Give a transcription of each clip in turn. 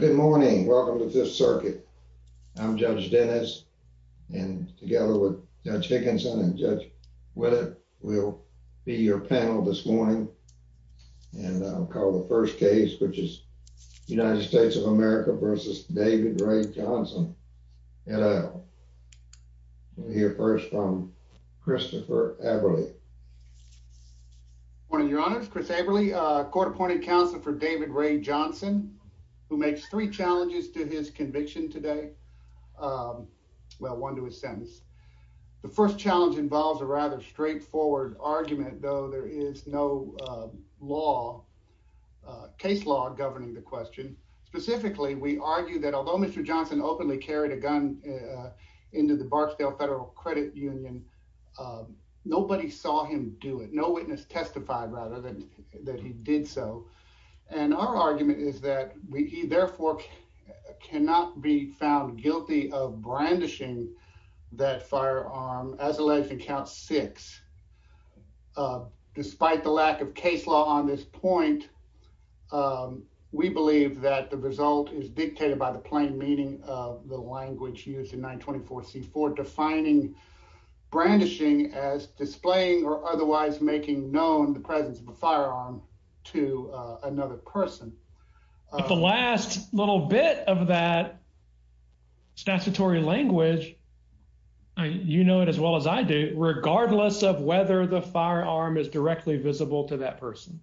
Good morning. Welcome to Fifth Circuit. I'm Judge Dennis, and together with Judge Hickinson and Judge Willett, we'll be your panel this morning. And I'll call the first case, which is United States of America v. David Ray Johnson. And we'll hear first from Christopher Averly. Good morning, Your Honors. Chris Averly, court-appointed counsel for David Ray Johnson, who makes three challenges to his conviction today. Well, one to his sentence. The first challenge involves a rather straightforward argument, though there is no law, case law, governing the question. Specifically, we argue that although Mr. Johnson openly carried a gun into the Barksdale Federal Credit Union, nobody saw him do it. No witness testified, rather, that he did so. And our argument is that he, therefore, cannot be found guilty of brandishing that firearm as alleged in Count 6. Despite the lack of case law on this point, we believe that the result is dictated by the plain meaning of the language used in 924C for defining brandishing as displaying or otherwise making known the presence of a firearm to another person. But the last little bit of that statutory language, you know it as well as I do, regardless of whether the firearm is directly visible to that person.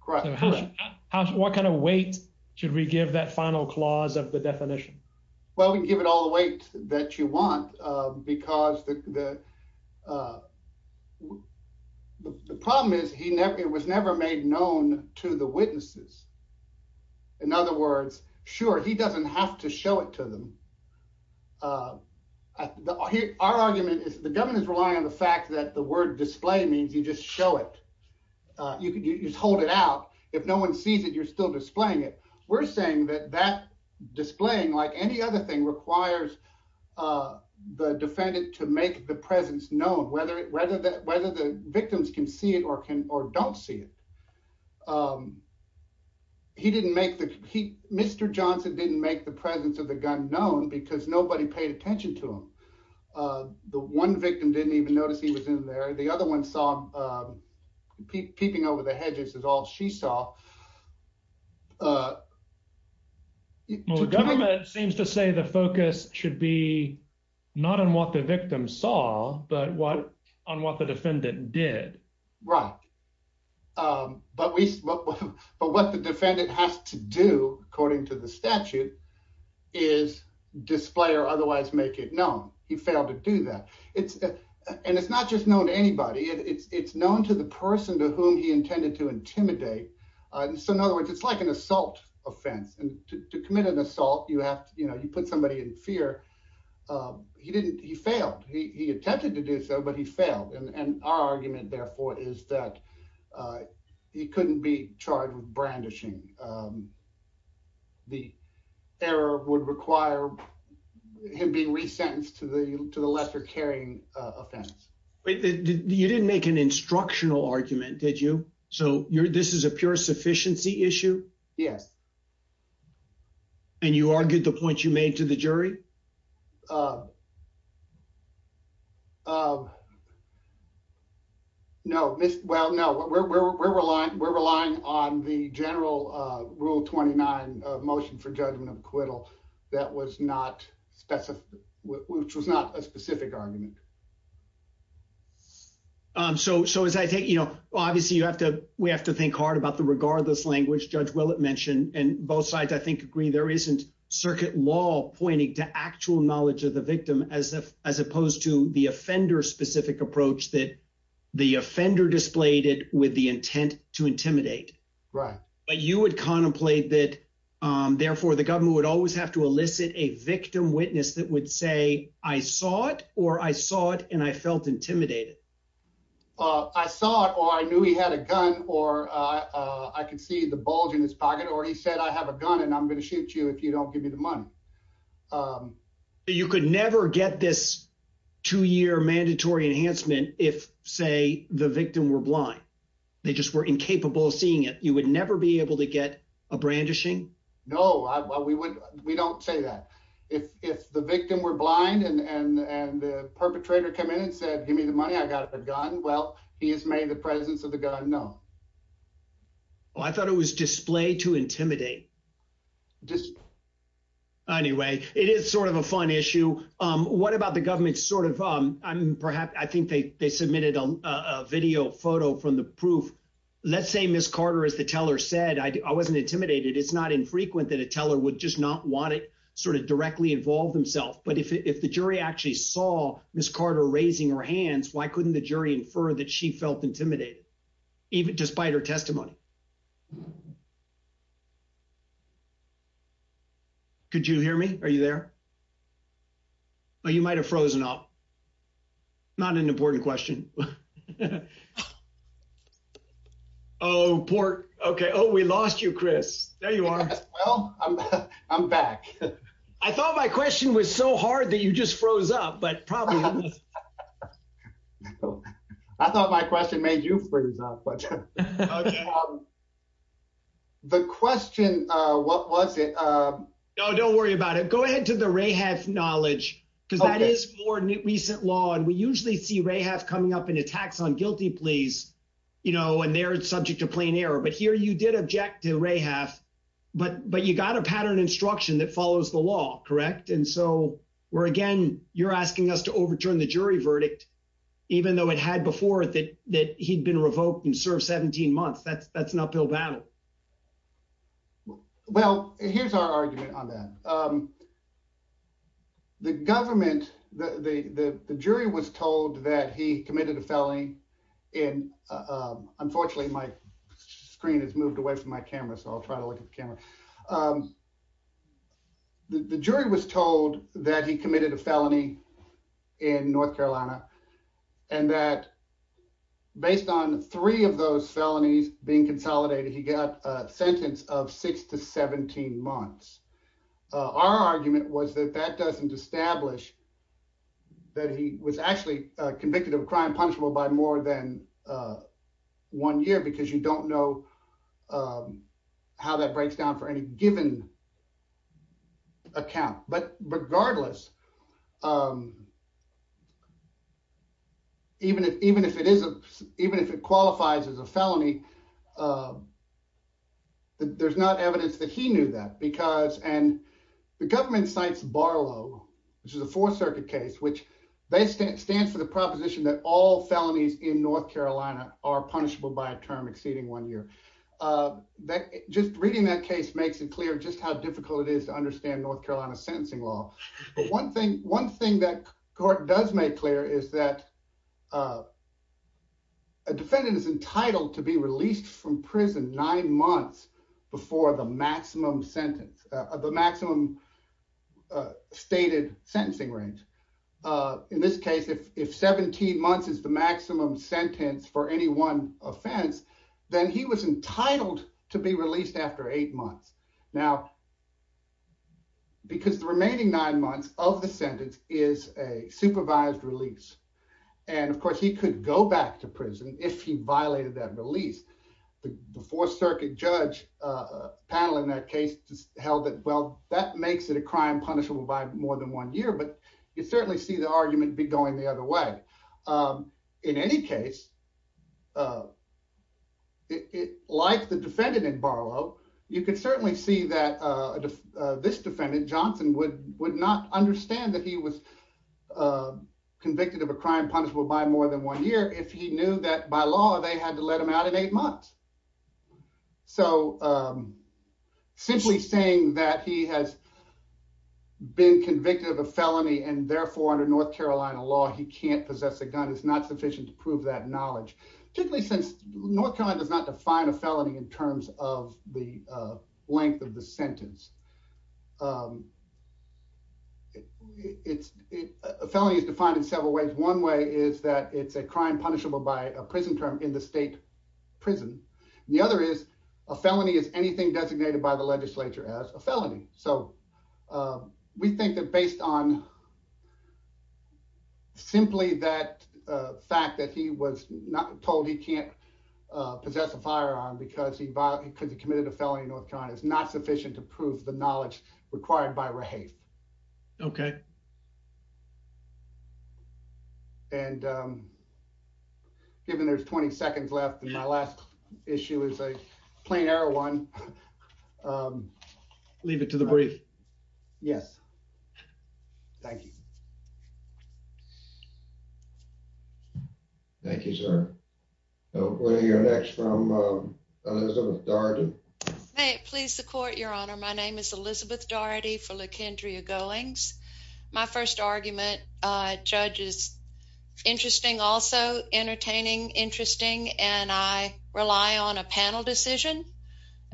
Correct. Correct. What kind of weight should we give that final clause of the definition? Well, we can give it all the weight that you want because the problem is it was never made known to the witnesses. In other words, sure, he doesn't have to show it to them. Our argument is the government is relying on the fact that the word display means you just show it. You don't show it. No one sees it. You're still displaying it. We're saying that displaying like any other thing requires the defendant to make the presence known, whether the victims can see it or don't see it. Mr. Johnson didn't make the presence of the gun known because nobody paid attention to him. The one victim didn't even notice he was in there. The other one saw him peeping over the hedges is all she saw. The government seems to say the focus should be not on what the victim saw, but what on what the defendant did. Right. But what the defendant has to do, according to the statute, is display or otherwise make it known. He failed to do that. And it's not just known to anybody. It's known to the person to whom he intended to intimidate. So, in other words, it's like an assault offense. And to commit an assault, you have to, you know, you put somebody in fear. He didn't. He failed. He attempted to do so, but he failed. And our argument, therefore, is that he couldn't be charged with brandishing. The error would require him being resentenced to the to the lesser carrying offense. You didn't make an instructional argument, did you? So you're this is a pure sufficiency issue. Yes. And you argued the point you made to the jury. No. Well, no, we're relying we're relying on the general rule. Twenty nine motion for judgment acquittal. That was not specific, which was not a specific argument. So so as I think, you know, obviously, you have to we have to think hard about the regardless language Judge Willett mentioned. And both sides, I think, agree there isn't circuit law pointing to actual knowledge of the victim as if as opposed to the offender specific approach that the offender displayed it with the intent to intimidate. Right. But you would contemplate that, therefore, the government would always have to elicit a victim witness that would say, I saw it or I saw it and I felt intimidated. I saw it or I knew he had a gun or I could see the bulge in his pocket or he said, I have a gun and I'm going to shoot you if you don't give me the money. You could never get this two year mandatory enhancement if, say, the victim were blind. They just were incapable of seeing it. You would never be able to get a brandishing. No, we would. We don't say that if the victim were blind and the perpetrator come in and said, give me the money, I got a gun. Well, he has made the presence of the gun. No. Well, I thought it was display to intimidate. Anyway, it is sort of a fun issue. What about the government sort of I'm perhaps I think they submitted a video photo from the proof. Let's say Miss Carter, as the teller said, I wasn't intimidated. It's not infrequent that a teller would just not want it sort of directly involved himself. But if the jury actually saw Miss Carter raising her hands, why couldn't the jury infer that she felt intimidated even despite her testimony? Could you hear me? Are you there? Oh, you might have frozen up. Not an important question. Oh, poor. OK. Oh, we lost you, Chris. There you are. Well, I'm back. I thought my question was so hard that you just froze up. But probably I thought my question made you freeze up. But the question, what was it? Oh, don't worry about it. Go ahead to the rehab knowledge, because that is more recent law. And we usually see rehab coming up in attacks on guilty pleas, you know, and they're subject to plain error. But here you did object to rehab. But but you got a pattern instruction that follows the law. Correct. And so we're again, you're asking us to overturn the jury verdict, even though it had before that, that he'd been revoked and served 17 months. That's that's an uphill battle. Well, here's our argument on that. The government, the jury was told that he committed a felony. And unfortunately, my screen has moved away from my camera, so I'll try to look at the camera. The jury was told that he committed a felony in North Carolina and that based on three of those felonies being consolidated, he got a sentence of six to 17 months. Our argument was that that doesn't establish that he was actually convicted of a crime punishable by more than one year because you don't know how that breaks down for any given account. But regardless, even if even if it is, even if it qualifies as a felony, there's not evidence that he knew that because and the government cites Barlow, which is a Fourth Circuit case, which they stand stands for the proposition that all felonies in North Carolina are punishable by a term exceeding one year that just reading that case makes it clear just how difficult it is to understand North Carolina sentencing law. But one thing one thing that court does make clear is that a defendant is entitled to be released from prison nine months before the maximum sentence of the maximum stated sentencing range. In this case, if 17 months is the maximum sentence for any one offense, then he was entitled to be released after eight months. Now, because the remaining nine months of the sentence is a supervised release. And of course, he could go back to prison if he violated that release. The Fourth Circuit judge panel in that case held that well, that makes it a crime punishable by more than one year. But you certainly see the argument be going the other way. In any case, it like the defendant in Barlow, you can certainly see that this defendant Johnson would would not understand that he was convicted of a crime punishable by more than one year if he knew that by law, they had to let him out in eight months. So simply saying that he has been convicted of a felony and therefore under North Carolina law, he can't possess a gun is not sufficient to prove that knowledge, particularly since North Carolina does not define a felony in terms of the length of the sentence. It's a felony is defined in several ways. One way is that it's a crime punishable by a prison term in the state prison. The other is a felony is anything designated by the legislature as a felony. So we think that based on simply that fact that he was not told he can't possess a firearm because he could have committed a felony in North Carolina is not sufficient to prove the knowledge required by given. There's 20 seconds left, and my last issue is a plain air one. Um, leave it to the brief. Yes. Thank you. Thank you, sir. So where you're next from Elizabeth Darden. Please support your honor. My name is Elizabeth Daugherty for Lake Andrea goings. My first argument judges. Interesting. Also entertaining. Interesting. And I rely on a panel decision.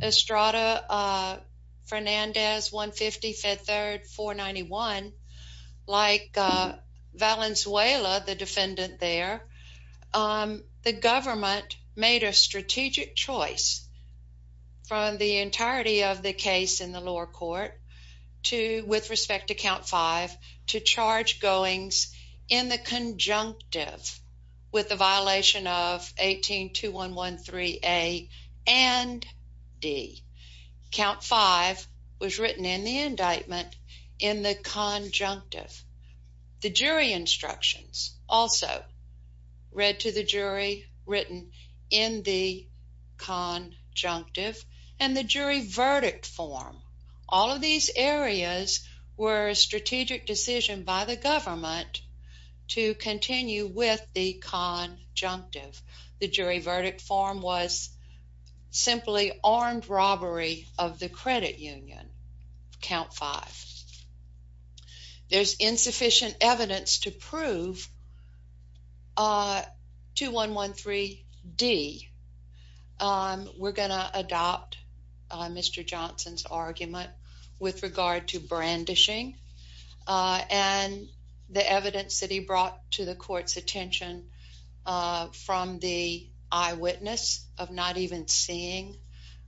Estrada Fernandez 1 50 5th 3rd 4 91 like Valenzuela, the defendant there. Um, the government made a strategic choice from the entirety of the case in the lower court to with respect to count five to charge goings in the conjunctive with the violation of 18 to 113 A and D. Count five was written in the indictment in the conjunctive. The jury instructions also read to the jury written in the con junctive and the jury verdict form. All of these areas were strategic decision by the government to continue with the con junctive. The jury verdict form was simply armed robbery of the credit union count five. There's insufficient evidence to prove Ah, to 113 D. Um, we're gonna adopt Mr Johnson's argument with regard to brandishing and the evidence that he brought to the court's attention from the eyewitness of not even seeing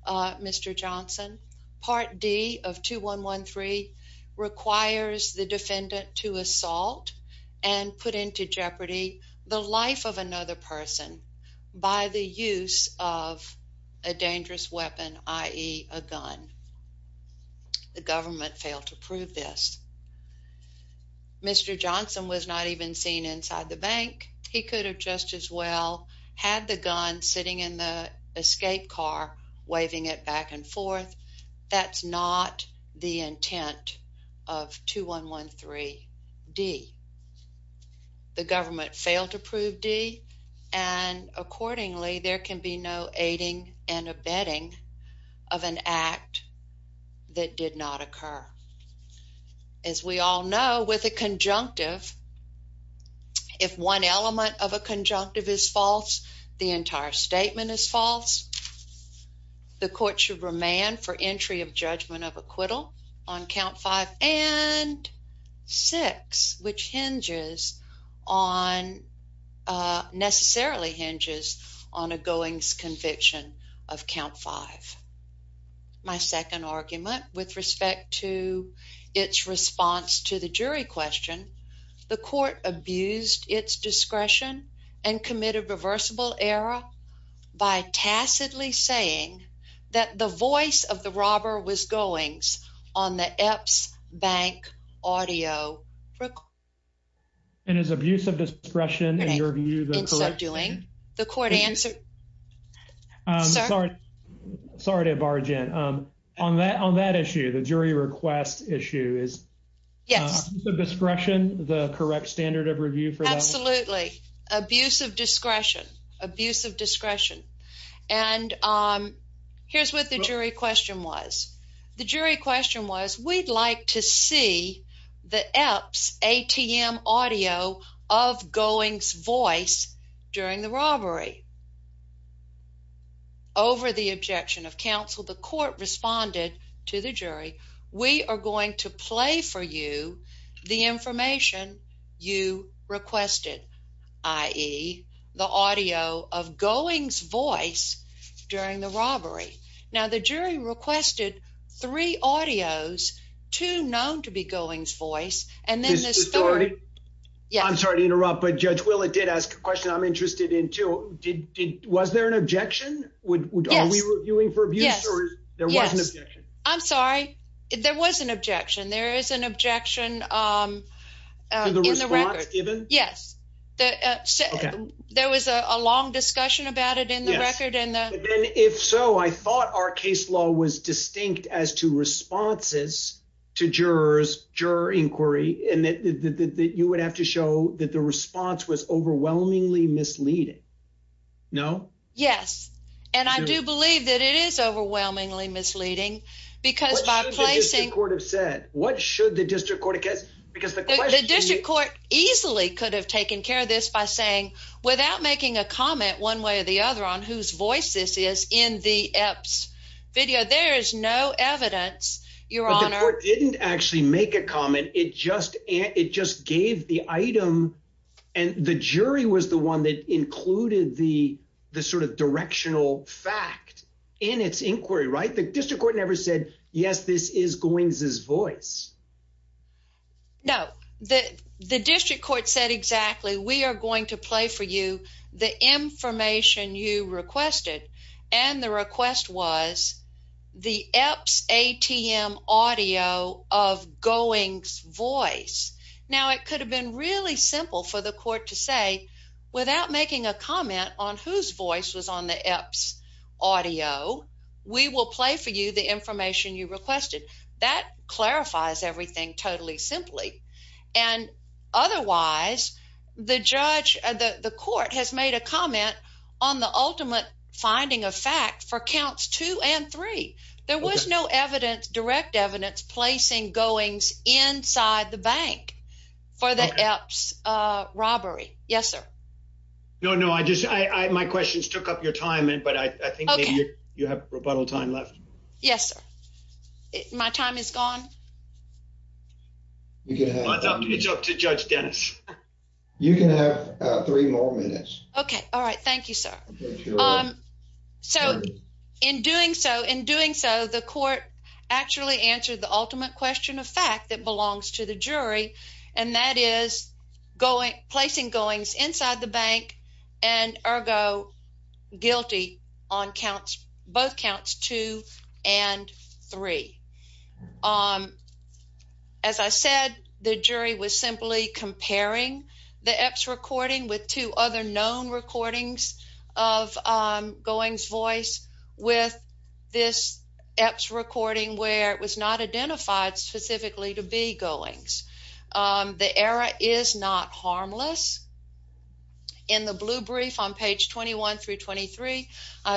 Mr Johnson part D of 2113 requires the defendant to assault and put into jeopardy the life of another person by the use of a dangerous weapon, i.e. a gun. The government failed to prove this. Mr Johnson was not even seen inside the bank. He could have just as well had the gun sitting in the escape car waving it back and forth. That's not the intent of 2113 D. The government failed to prove D. And accordingly, there can be no aiding and abetting of an act that did not occur. As we all know, with a conjunctive. If one element of a conjunctive is false, the entire statement is false. The court should remain for entry of judgment of acquittal on count five and six, which hinges on necessarily hinges on a goings conviction of count five. My second argument with respect to its response to the jury question. The court abused its discretion and committed reversible error by tacitly saying that the voice of the robber was goings on the EPS bank audio. And his abuse of discretion, in your view, the correct doing the court answer. I'm sorry. Sorry to barge in on that on that issue. The jury request issue is Yes, the discretion, the correct standard of review for Absolutely abusive discretion abuse of discretion and Here's what the jury question was the jury question was, we'd like to see the EPS ATM audio of goings voice during the robbery. Over the objection of counsel, the court responded to the jury. We are going to play for you the information you requested, i.e. the audio of goings voice during the robbery. Now, the jury requested three audios to known to be goings voice and then Yes, I'm sorry to interrupt, but Judge will it did ask a question. I'm interested in to did. Was there an objection. Would we were doing for abuse. There was an objection. I'm sorry, there was an objection. There is an objection. In the record given Yes, that said, there was a long discussion about it in the record and If so, I thought our case law was distinct as to responses to jurors juror inquiry and that you would have to show that the response was overwhelmingly misleading. No. Yes. And I do believe that it is overwhelmingly misleading. Because by placing Court of said, what should the district court because Because the district court easily could have taken care of this by saying, without making a comment, one way or the other on whose voice. This is in the EPS video. There is no evidence. Your Honor didn't actually make a comment. It just, it just gave the item. And the jury was the one that included the the sort of directional fact in its inquiry. Right. The district court never said, yes, this is going as voice. No, the, the district court said exactly. We are going to play for you the information you requested and the request was The EPS ATM audio of going voice. Now it could have been really simple for the court to say without making a comment on whose voice was on the EPS audio We will play for you the information you requested that clarifies everything totally simply and otherwise the judge, the court has made a comment on the ultimate finding a fact for counts two and three. There was no evidence direct evidence placing goings inside the bank for the EPS robbery. Yes, sir. No, no, I just, I, my questions took up your time. But I think you have rebuttal time left. Yes, my time is gone. You can have It's up to Judge Dennis You can have three more minutes. Um, so in doing so, in doing so, the court actually answered the ultimate question of fact that belongs to the jury and that is going placing goings inside the bank and ergo guilty on counts both counts two and three. Um, as I said, the jury was simply comparing the EPS recording with two other known recordings of goings voice with this EPS recording where it was not identified specifically to be goings. The error is not harmless. In the blue brief on page 21 through 23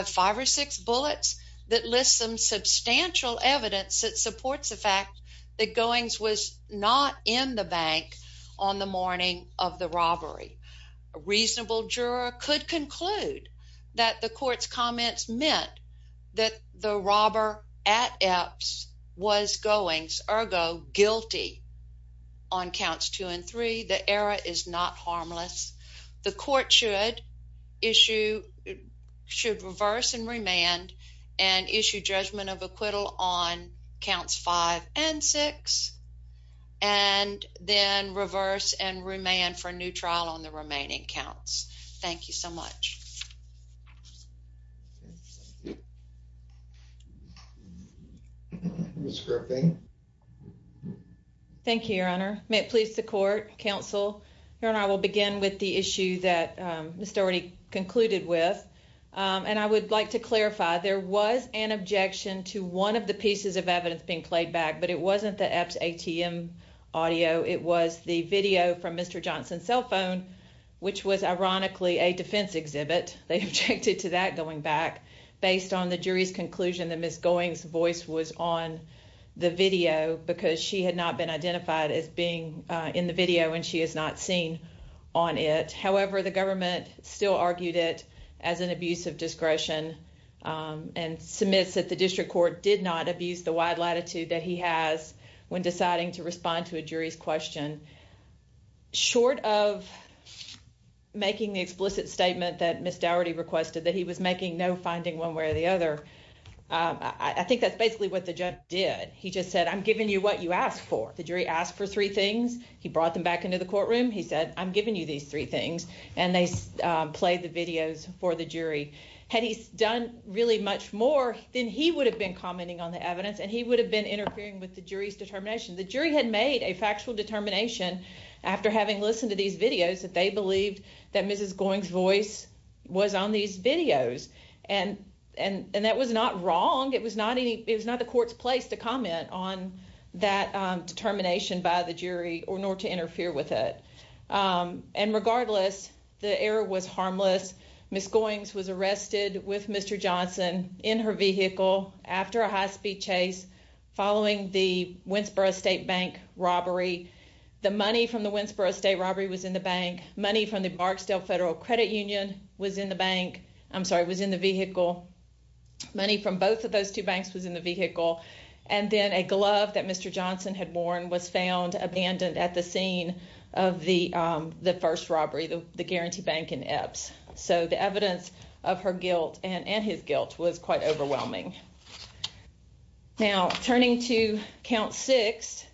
five or six bullets that list some substantial evidence that supports the fact that goings was not in the bank on the morning of the robbery. A reasonable juror could conclude that the court's comments meant that the robber at EPS was goings ergo guilty on counts two and three. The error is not harmless. The court should issue Should reverse and remand and issue judgment of acquittal on counts five and six and then reverse and remand for a new trial on the remaining counts. Thank you so much. Thank you, your honor. May it please the court counsel here and I will begin with the issue that Mr already concluded with and I would like to clarify. There was an objection to 1 of the pieces of evidence being played back, but it wasn't the apps ATM audio. It was the video from Mr Johnson cell phone, which was ironically a defense exhibit. They objected to that going back. Based on the jury's conclusion that Miss goings voice was on the video because she had not been identified as being in the video and she is not seen on it. However, the government still argued it as an abuse of discretion and submits that the district court did not abuse the wide latitude that he has when deciding to respond to a jury's question. Short of making the explicit statement that missed already requested that he was making no finding one way or the other. I think that's basically what the judge did. He just said, I'm giving you what you asked for. The jury asked for 3 things. He brought them back into the courtroom. He said, I'm giving you these 3 things and they play the videos for the jury had he's done really much more than he would have been commenting on the evidence and he would have been interfering with the jury's determination. The jury had made a factual determination after having listened to these videos that they believed that Mrs goings voice was on these videos and and and that was not wrong. It was not any. It was not the court's place to comment on that determination by the jury or nor to interfere with it. And regardless, the error was harmless. Miss goings was arrested with Mr Johnson in her vehicle after a high speed chase following the Wentzboro state bank robbery. The money from the Wentzboro state robbery was in the bank. Money from the Marksdale Federal Credit Union was in the bank. I'm sorry. It was in the vehicle money from both of those 2 banks was in the vehicle and then a glove that Mr Johnson had worn was found abandoned at the scene of the incident. The the 1st robbery, the guarantee bank in Epps. So the evidence of her guilt and and his guilt was quite overwhelming now, turning to count 6,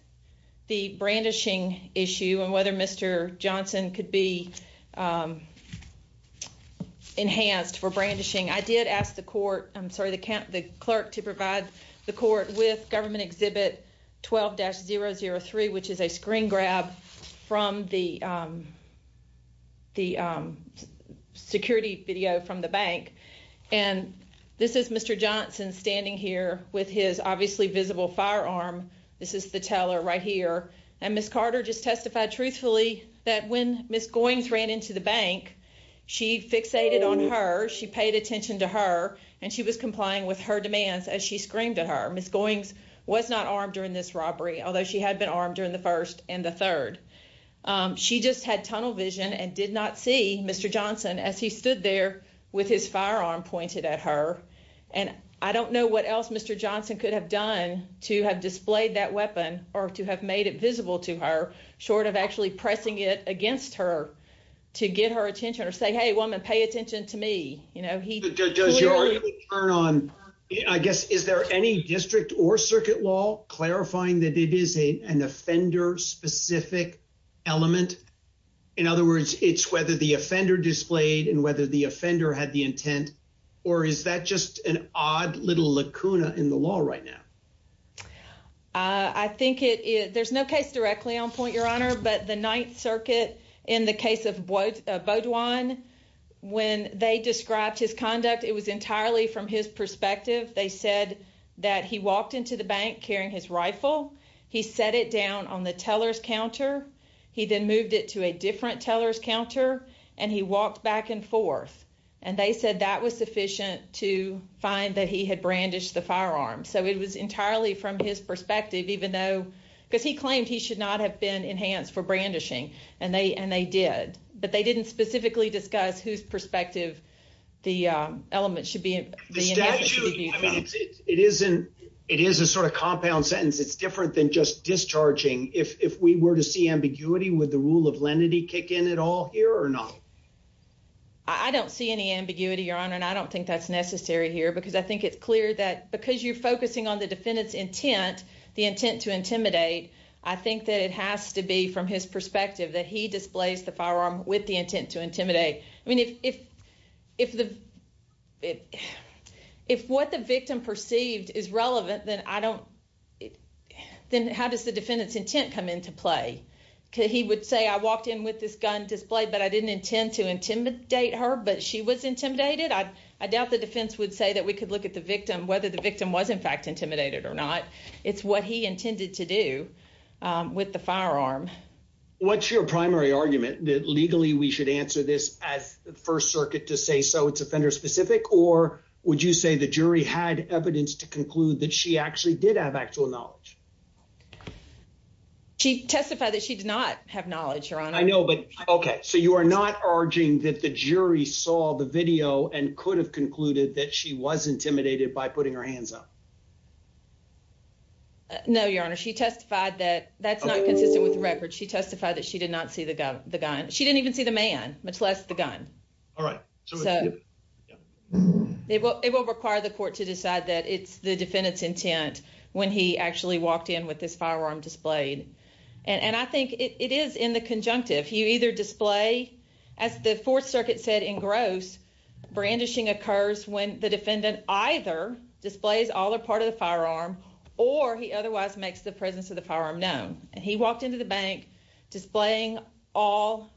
the brandishing issue and whether Mr Johnson could be enhanced for brandishing. I did ask the court. I'm sorry. The clerk to provide the court with government exhibit 12 dash 003, which is a screen grab from the. The security video from the bank, and this is Mr Johnson standing here with his obviously visible firearm. This is the teller right here. And Miss Carter just testified truthfully that when Miss goings ran into the bank. She fixated on her. She paid attention to her and she was complying with her demands as she screamed at her. Miss goings was not armed during this robbery, although she had been armed during the 1st and the 3rd. She just had tunnel vision and did not see Mr Johnson as he stood there with his firearm pointed at her. And I don't know what else Mr Johnson could have done to have displayed that weapon or to have made it visible to her short of actually pressing it against her to get her attention or say, hey, woman, pay attention to me. You know, he does your turn on. I guess, is there any district or circuit law clarifying that it is a an offender specific element. In other words, it's whether the offender displayed and whether the offender had the intent or is that just an odd little lacuna in the law right now. I think it is. There's no case directly on point your honor, but the 9th circuit in the case of vote one when they described his conduct. It was entirely from his perspective. They said that he walked into the bank carrying his rifle. He set it down on the tellers counter. He then moved it to a different tellers counter and he walked back and forth and they said that was sufficient to find that he had brandished the firearm. So it was entirely from his perspective, even though because he claimed he should not have been enhanced for brandishing and they and they did, but they didn't specifically discuss whose perspective. The element should be the statute. It isn't. It is a sort of compound sentence. It's different than just discharging. If we were to see ambiguity with the rule of lenity kick in at all here or not, I don't see any ambiguity, your honor, and I don't think that's necessary here because I think it's clear that because you're focusing on the defendant's intent, the intent to intimidate, I think that it has to be from his perspective that he displays the firearm with the intent to intimidate. I mean, if if the if if what the victim perceived is relevant, then I don't. Then how does the defendant's intent come into play? He would say, I walked in with this gun display, but I didn't intend to intimidate her, but she was intimidated. I doubt the defense would say that we could look at the victim, whether the victim was in fact intimidated or not. It's what he intended to do with the firearm. What's your primary argument that legally we should answer this as First Circuit to say so? It's offender specific, or would you say the jury had evidence to conclude that she actually did have actual knowledge? She testified that she did not have knowledge, your honor. I know, but OK, so you are not urging that the jury saw the video and could have concluded that she was intimidated by putting her hands up. No, your honor. She testified that that's not consistent with the record. She testified that she did not see the gun. The gun. She didn't even see the man, much less the gun. All right. So it will require the court to decide that it's the defendant's intent when he actually walked in with this firearm displayed. And I think it is in the conjunctive. You either display as the 4th Circuit said in gross brandishing occurs when the defendant either displays all or part of the firearm or he otherwise makes the presence of the firearm known. And he walked into the bank displaying all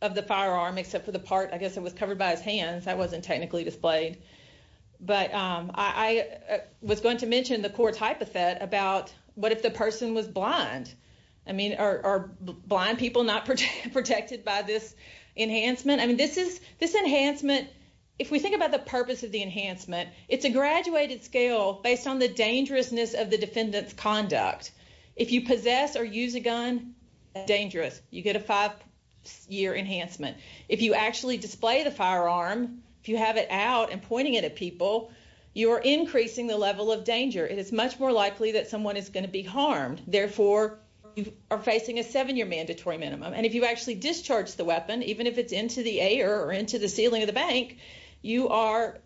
of the firearm except for the part. I guess it was covered by his hands. I wasn't technically displayed, but I was going to mention the court's hypothet about what if the person was blind? I mean, are blind people not protected by this enhancement? I mean, this is this enhancement. If we think about the purpose of the enhancement, it's a graduated scale based on the dangerousness of the defendant's conduct. If you possess or use a gun, dangerous. You get a five year enhancement. If you actually display the firearm, if you have it out and pointing it at people, you're increasing the level of danger. It is much more likely that someone is going to be harmed. Therefore, you are facing a seven year mandatory minimum. And if you actually discharge the weapon, even if it's into the air or into the ceiling of the bank, you are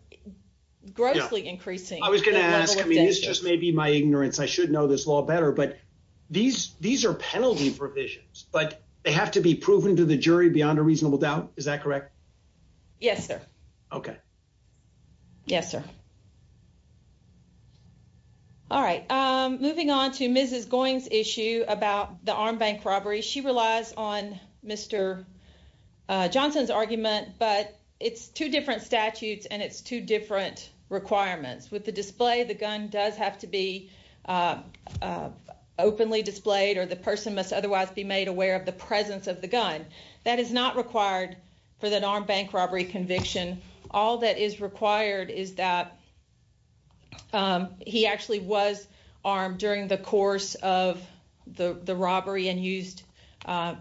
grossly increasing. I was going to ask. I mean, this just may be my ignorance. I should know this law better. But these these are penalty provisions, but they have to be proven to the jury beyond a reasonable doubt. Is that correct? Yes, sir. Okay. Yes, sir. All right. Moving on to Mrs. Goings issue about the arm bank robbery. She relies on Mr. Johnson's argument, but it's two different statutes and it's two different requirements with the display. The gun does have to be openly displayed or the person must otherwise be made aware of the presence of the gun. That is not required for that arm bank robbery conviction. All that is required is that he actually was armed during the course of the robbery and used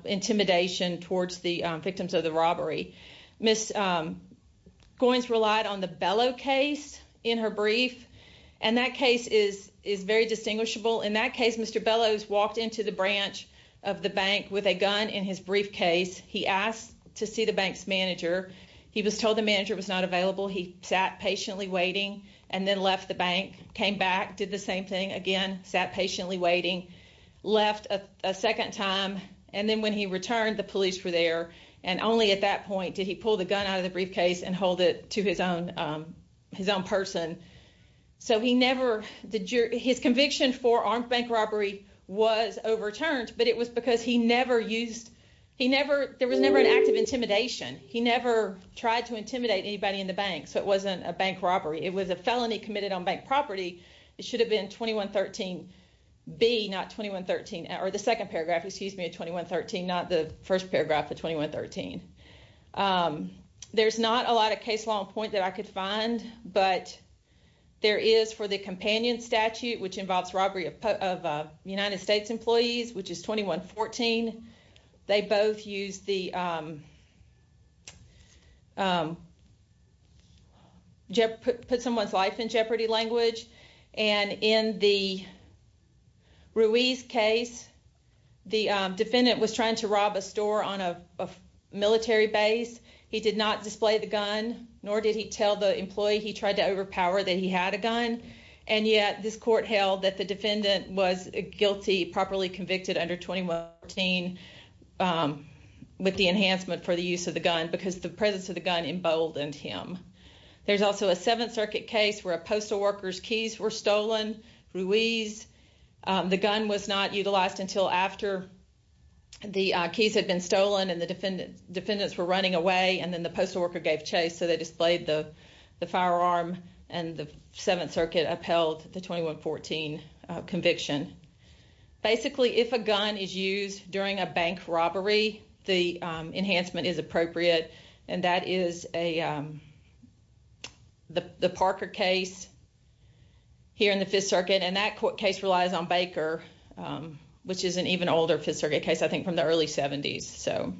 intimidation towards the victims of the robbery. Miss Goins relied on the Bellow case in her brief, and that case is is very distinguishable. In that case, Mr. Bellows walked into the branch of the bank with a gun in his briefcase. He asked to see the bank's manager. He was told the manager was not available. He sat patiently waiting and then left the bank, came back, did the same thing again, sat patiently waiting, left a second time. And then when he returned, the police were there. And only at that point did he pull the gun out of the briefcase and hold it to his own his own person. So he never did. His conviction for armed bank robbery was overturned, but it was because he never used he never there was never an act of intimidation. He never tried to intimidate anybody in the bank. So it wasn't a bank robbery. It was a felony committed on bank property. It should have been 2113B, not 2113 or the second paragraph. Excuse me, 2113, not the first paragraph of 2113. There's not a lot of case law in point that I could find, but there is for the companion statute, which involves robbery of United States employees, which is 2114. They both use the. Put someone's life in jeopardy language, and in the. Ruiz case, the defendant was trying to rob a store on a military base. He did not display the gun, nor did he tell the employee he tried to overpower that he had a gun. And yet this court held that the defendant was guilty. Properly convicted under 21. With the enhancement for the use of the gun, because the presence of the gun emboldened him, there's also a 7th Circuit case where a postal worker's keys were stolen. Ruiz, the gun was not utilized until after. The keys had been stolen and the defendants were running away, and then the postal worker gave chase, so they displayed the firearm and the 7th Circuit upheld the 2114 conviction. Basically, if a gun is used during a bank robbery, the enhancement is appropriate, and that is a. The Parker case. Here in the 5th Circuit and that court case relies on Baker, which is an even older 5th Circuit case. I think from the early 70s. So.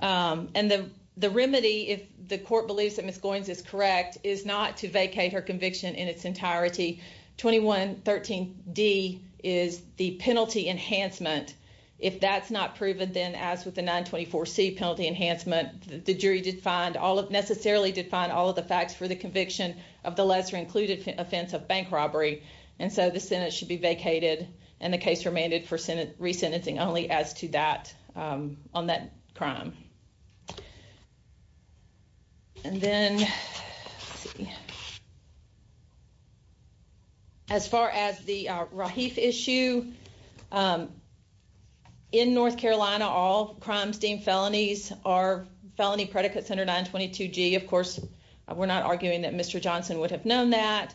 And the the remedy, if the court believes that Miss Goins is correct, is not to vacate her conviction in its entirety. 2113 D is the penalty enhancement. If that's not proven, then, as with the 924 C penalty enhancement, the jury did find all of necessarily define all of the facts for the conviction of the lesser included offense of bank robbery. And so the Senate should be vacated and the case remanded for Senate resentencing only as to that on that crime. And then. Yeah. As far as the issue. In North Carolina, all crimes deemed felonies are felony predicates under 922 G. Of course, we're not arguing that Mr Johnson would have known that,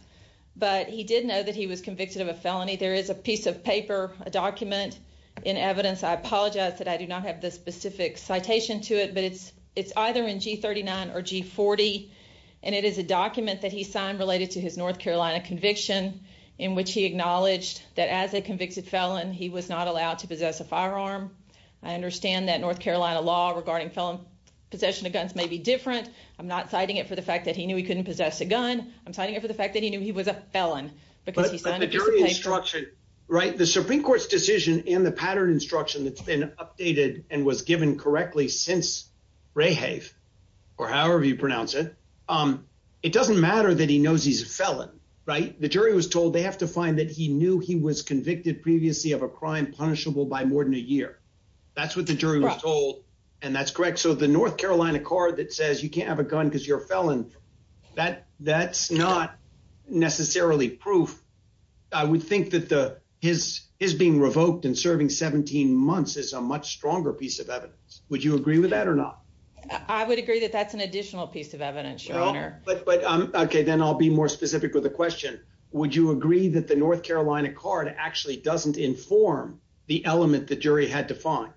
but he did know that he was convicted of a felony. There is a piece of paper, a document in evidence. I apologize that I do not have the specific citation to it, but it's it's either in G39 or G40. And it is a document that he signed related to his North Carolina conviction in which he acknowledged that as a convicted felon, he was not allowed to possess a firearm. I understand that North Carolina law regarding felon possession of guns may be different. I'm not citing it for the fact that he knew he couldn't possess a gun. I'm citing it for the fact that he knew he was a felon because he signed a piece of paper. Right. The Supreme Court's decision in the pattern instruction that's been updated and was given correctly since Rehave or however you pronounce it. It doesn't matter that he knows he's a felon. Right. The jury was told they have to find that he knew he was convicted previously of a crime punishable by more than a year. That's what the jury was told. And that's correct. So the North Carolina card that says you can't have a gun because you're a felon, that that's not necessarily proof. I would think that the his his being revoked and serving 17 months is a much stronger piece of evidence. Would you agree with that or not? I would agree that that's an additional piece of evidence. But OK, then I'll be more specific with a question. Would you agree that the North Carolina card actually doesn't inform the element the jury had to find?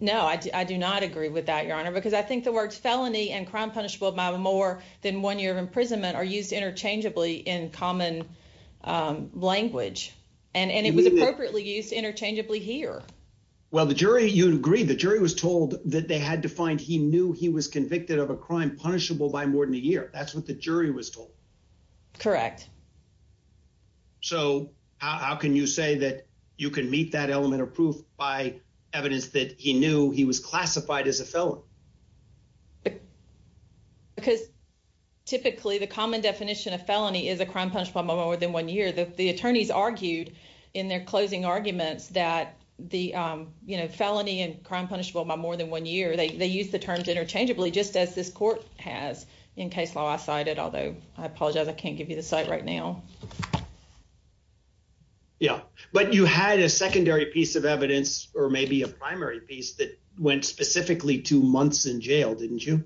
No, I do not agree with that, Your Honor, because I think the words felony and crime punishable by more than one year of imprisonment are used interchangeably in common language. And it was appropriately used interchangeably here. Well, the jury, you'd agree the jury was told that they had to find he knew he was convicted of a crime punishable by more than a year. That's what the jury was told. Correct. So how can you say that you can meet that element of proof by evidence that he knew he was classified as a felon? Because typically the common definition of felony is a crime punishable by more than one year. The attorneys argued in their closing arguments that the felony and crime punishable by more than one year, they use the terms interchangeably, just as this court has in case law cited. Although I apologize, I can't give you the site right now. Yeah, but you had a secondary piece of evidence or maybe a primary piece that went specifically to months in jail, didn't you?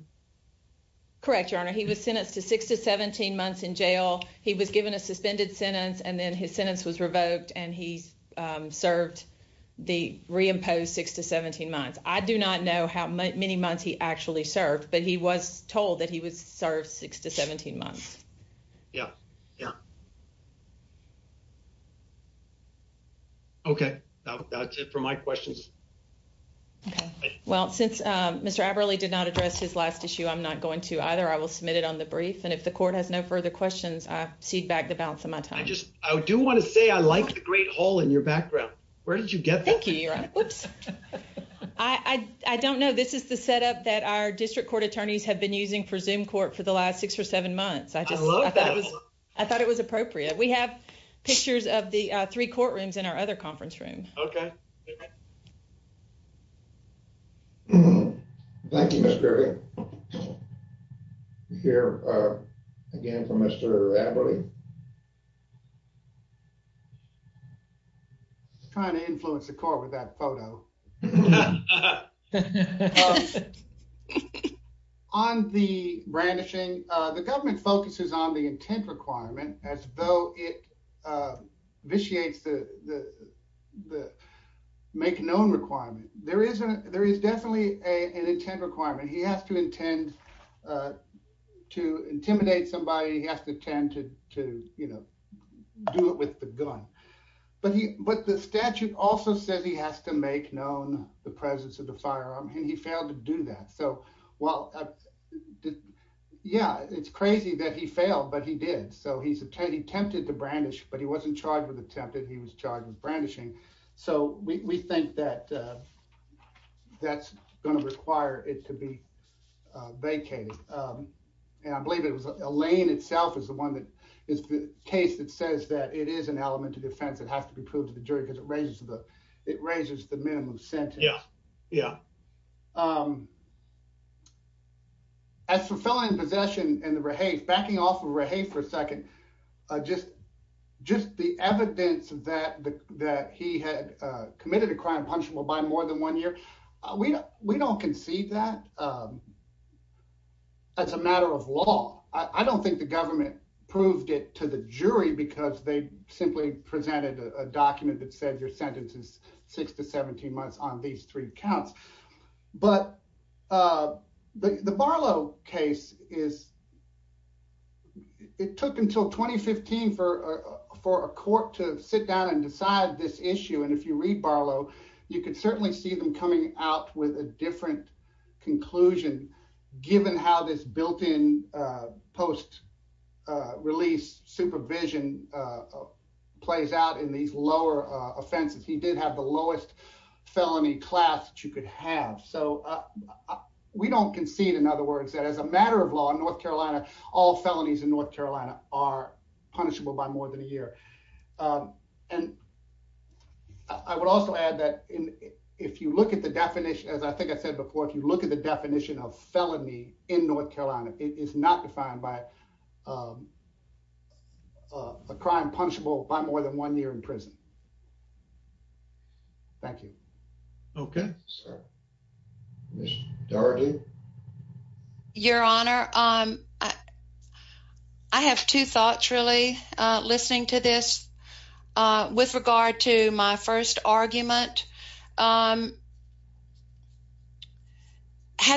Correct, Your Honor. He was sentenced to six to 17 months in jail. He was given a suspended sentence and then his sentence was revoked and he served the reimposed six to 17 months. I do not know how many months he actually served, but he was told that he was served six to 17 months. Yeah, yeah. Okay, that's it for my questions. Okay. Well, since Mr. Aberle did not address his last issue, I'm not going to either. I will submit it on the brief. And if the court has no further questions, I cede back the balance of my time. I do want to say I like the great hall in your background. Where did you get that? Thank you, Your Honor. I don't know. This is the setup that our district court attorneys have been using for Zoom Court for the last six or seven months. I love that. I thought it was appropriate. We have pictures of the three courtrooms in our other conference room. Okay. Thank you, Ms. Griffey. Here again for Mr. Aberle. Trying to influence the court with that photo. On the brandishing, the government focuses on the intent requirement as though it vitiates the make known requirement. There is definitely an intent requirement. He has to intend to intimidate somebody. He has to tend to, you know, do it with the gun. But the statute also says he has to make known the presence of the firearm, and he failed to do that. So, well, yeah, it's crazy that he failed, but he did. So he attempted to brandish, but he wasn't charged with attempting, he was charged with brandishing. So we think that that's going to require it to be vacated. And I believe it was Elaine itself is the one that is the case that says that it is an element of defense that has to be proved to the jury because it raises the minimum sentence. Yeah, yeah. As for felon in possession and the rehafe, backing off of rehafe for a second, just the evidence that he had committed a crime of punishment by more than one year, we don't concede that as a matter of law. I don't think the government proved it to the jury because they simply presented a document that said your sentences six to 17 months on these three counts. But the Barlow case is, it took until 2015 for a court to sit down and decide this issue. And if you read Barlow, you could certainly see them coming out with a different conclusion, given how this built in post release supervision plays out in these lower offenses. He did have the lowest felony class that you could have. So we don't concede, in other words, that as a matter of law in North Carolina, all felonies in North Carolina are punishable by more than a year. And I would also add that if you look at the definition, as I think I said before, if you look at the definition of felony in North Carolina, it is not defined by a crime punishable by more than one year in prison. Thank you. Okay. Ms. Dougherty. Your Honor, I have two thoughts really listening to this with regard to my first argument. Had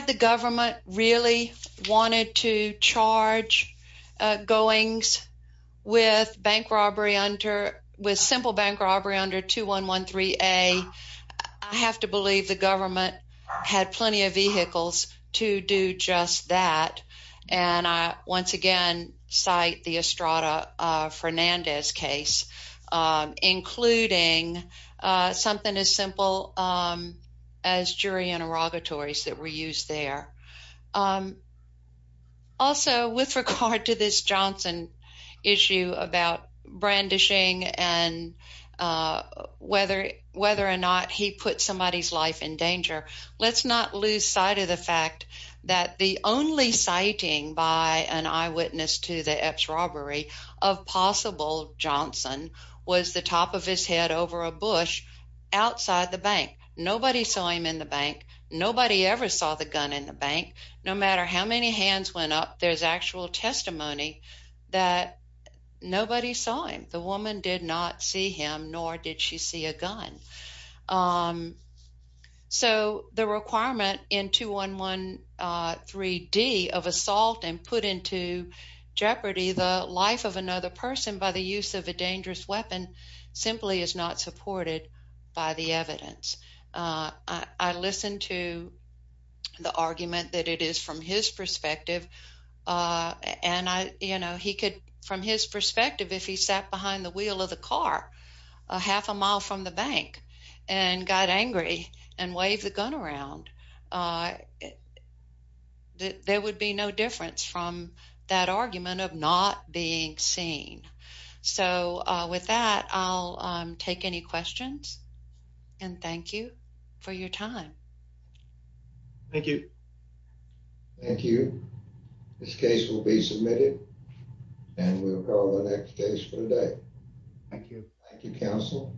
the government really wanted to charge Goings with bank robbery under, with simple bank robbery under 2113A, I have to believe the government had plenty of vehicles to do just that. And I, once again, cite the Estrada Fernandez case, including something as simple as jury interrogatories that were used there. Also, with regard to this Johnson issue about brandishing and whether or not he put somebody's life in danger, let's not lose sight of the fact that the only citing by an eyewitness to the Epps robbery of possible Johnson was the top of his head over a bush outside the bank. Nobody saw him in the bank. Nobody ever saw the gun in the bank. No matter how many hands went up, there's actual testimony that nobody saw him. The woman did not see him, nor did she see a gun. So the requirement in 2113D of assault and put into jeopardy the life of another person by the use of a dangerous weapon simply is not supported by the evidence. I listened to the argument that it is from his perspective, and I, you know, he could, from his perspective, if he sat behind the wheel of the car a half a mile from the bank and got angry and waved the gun around, there would be no difference from that argument of not being seen. So with that, I'll take any questions and thank you for your time. Thank you. Thank you. This case will be submitted and we'll call the next case for the day. Thank you. Thank you, counsel.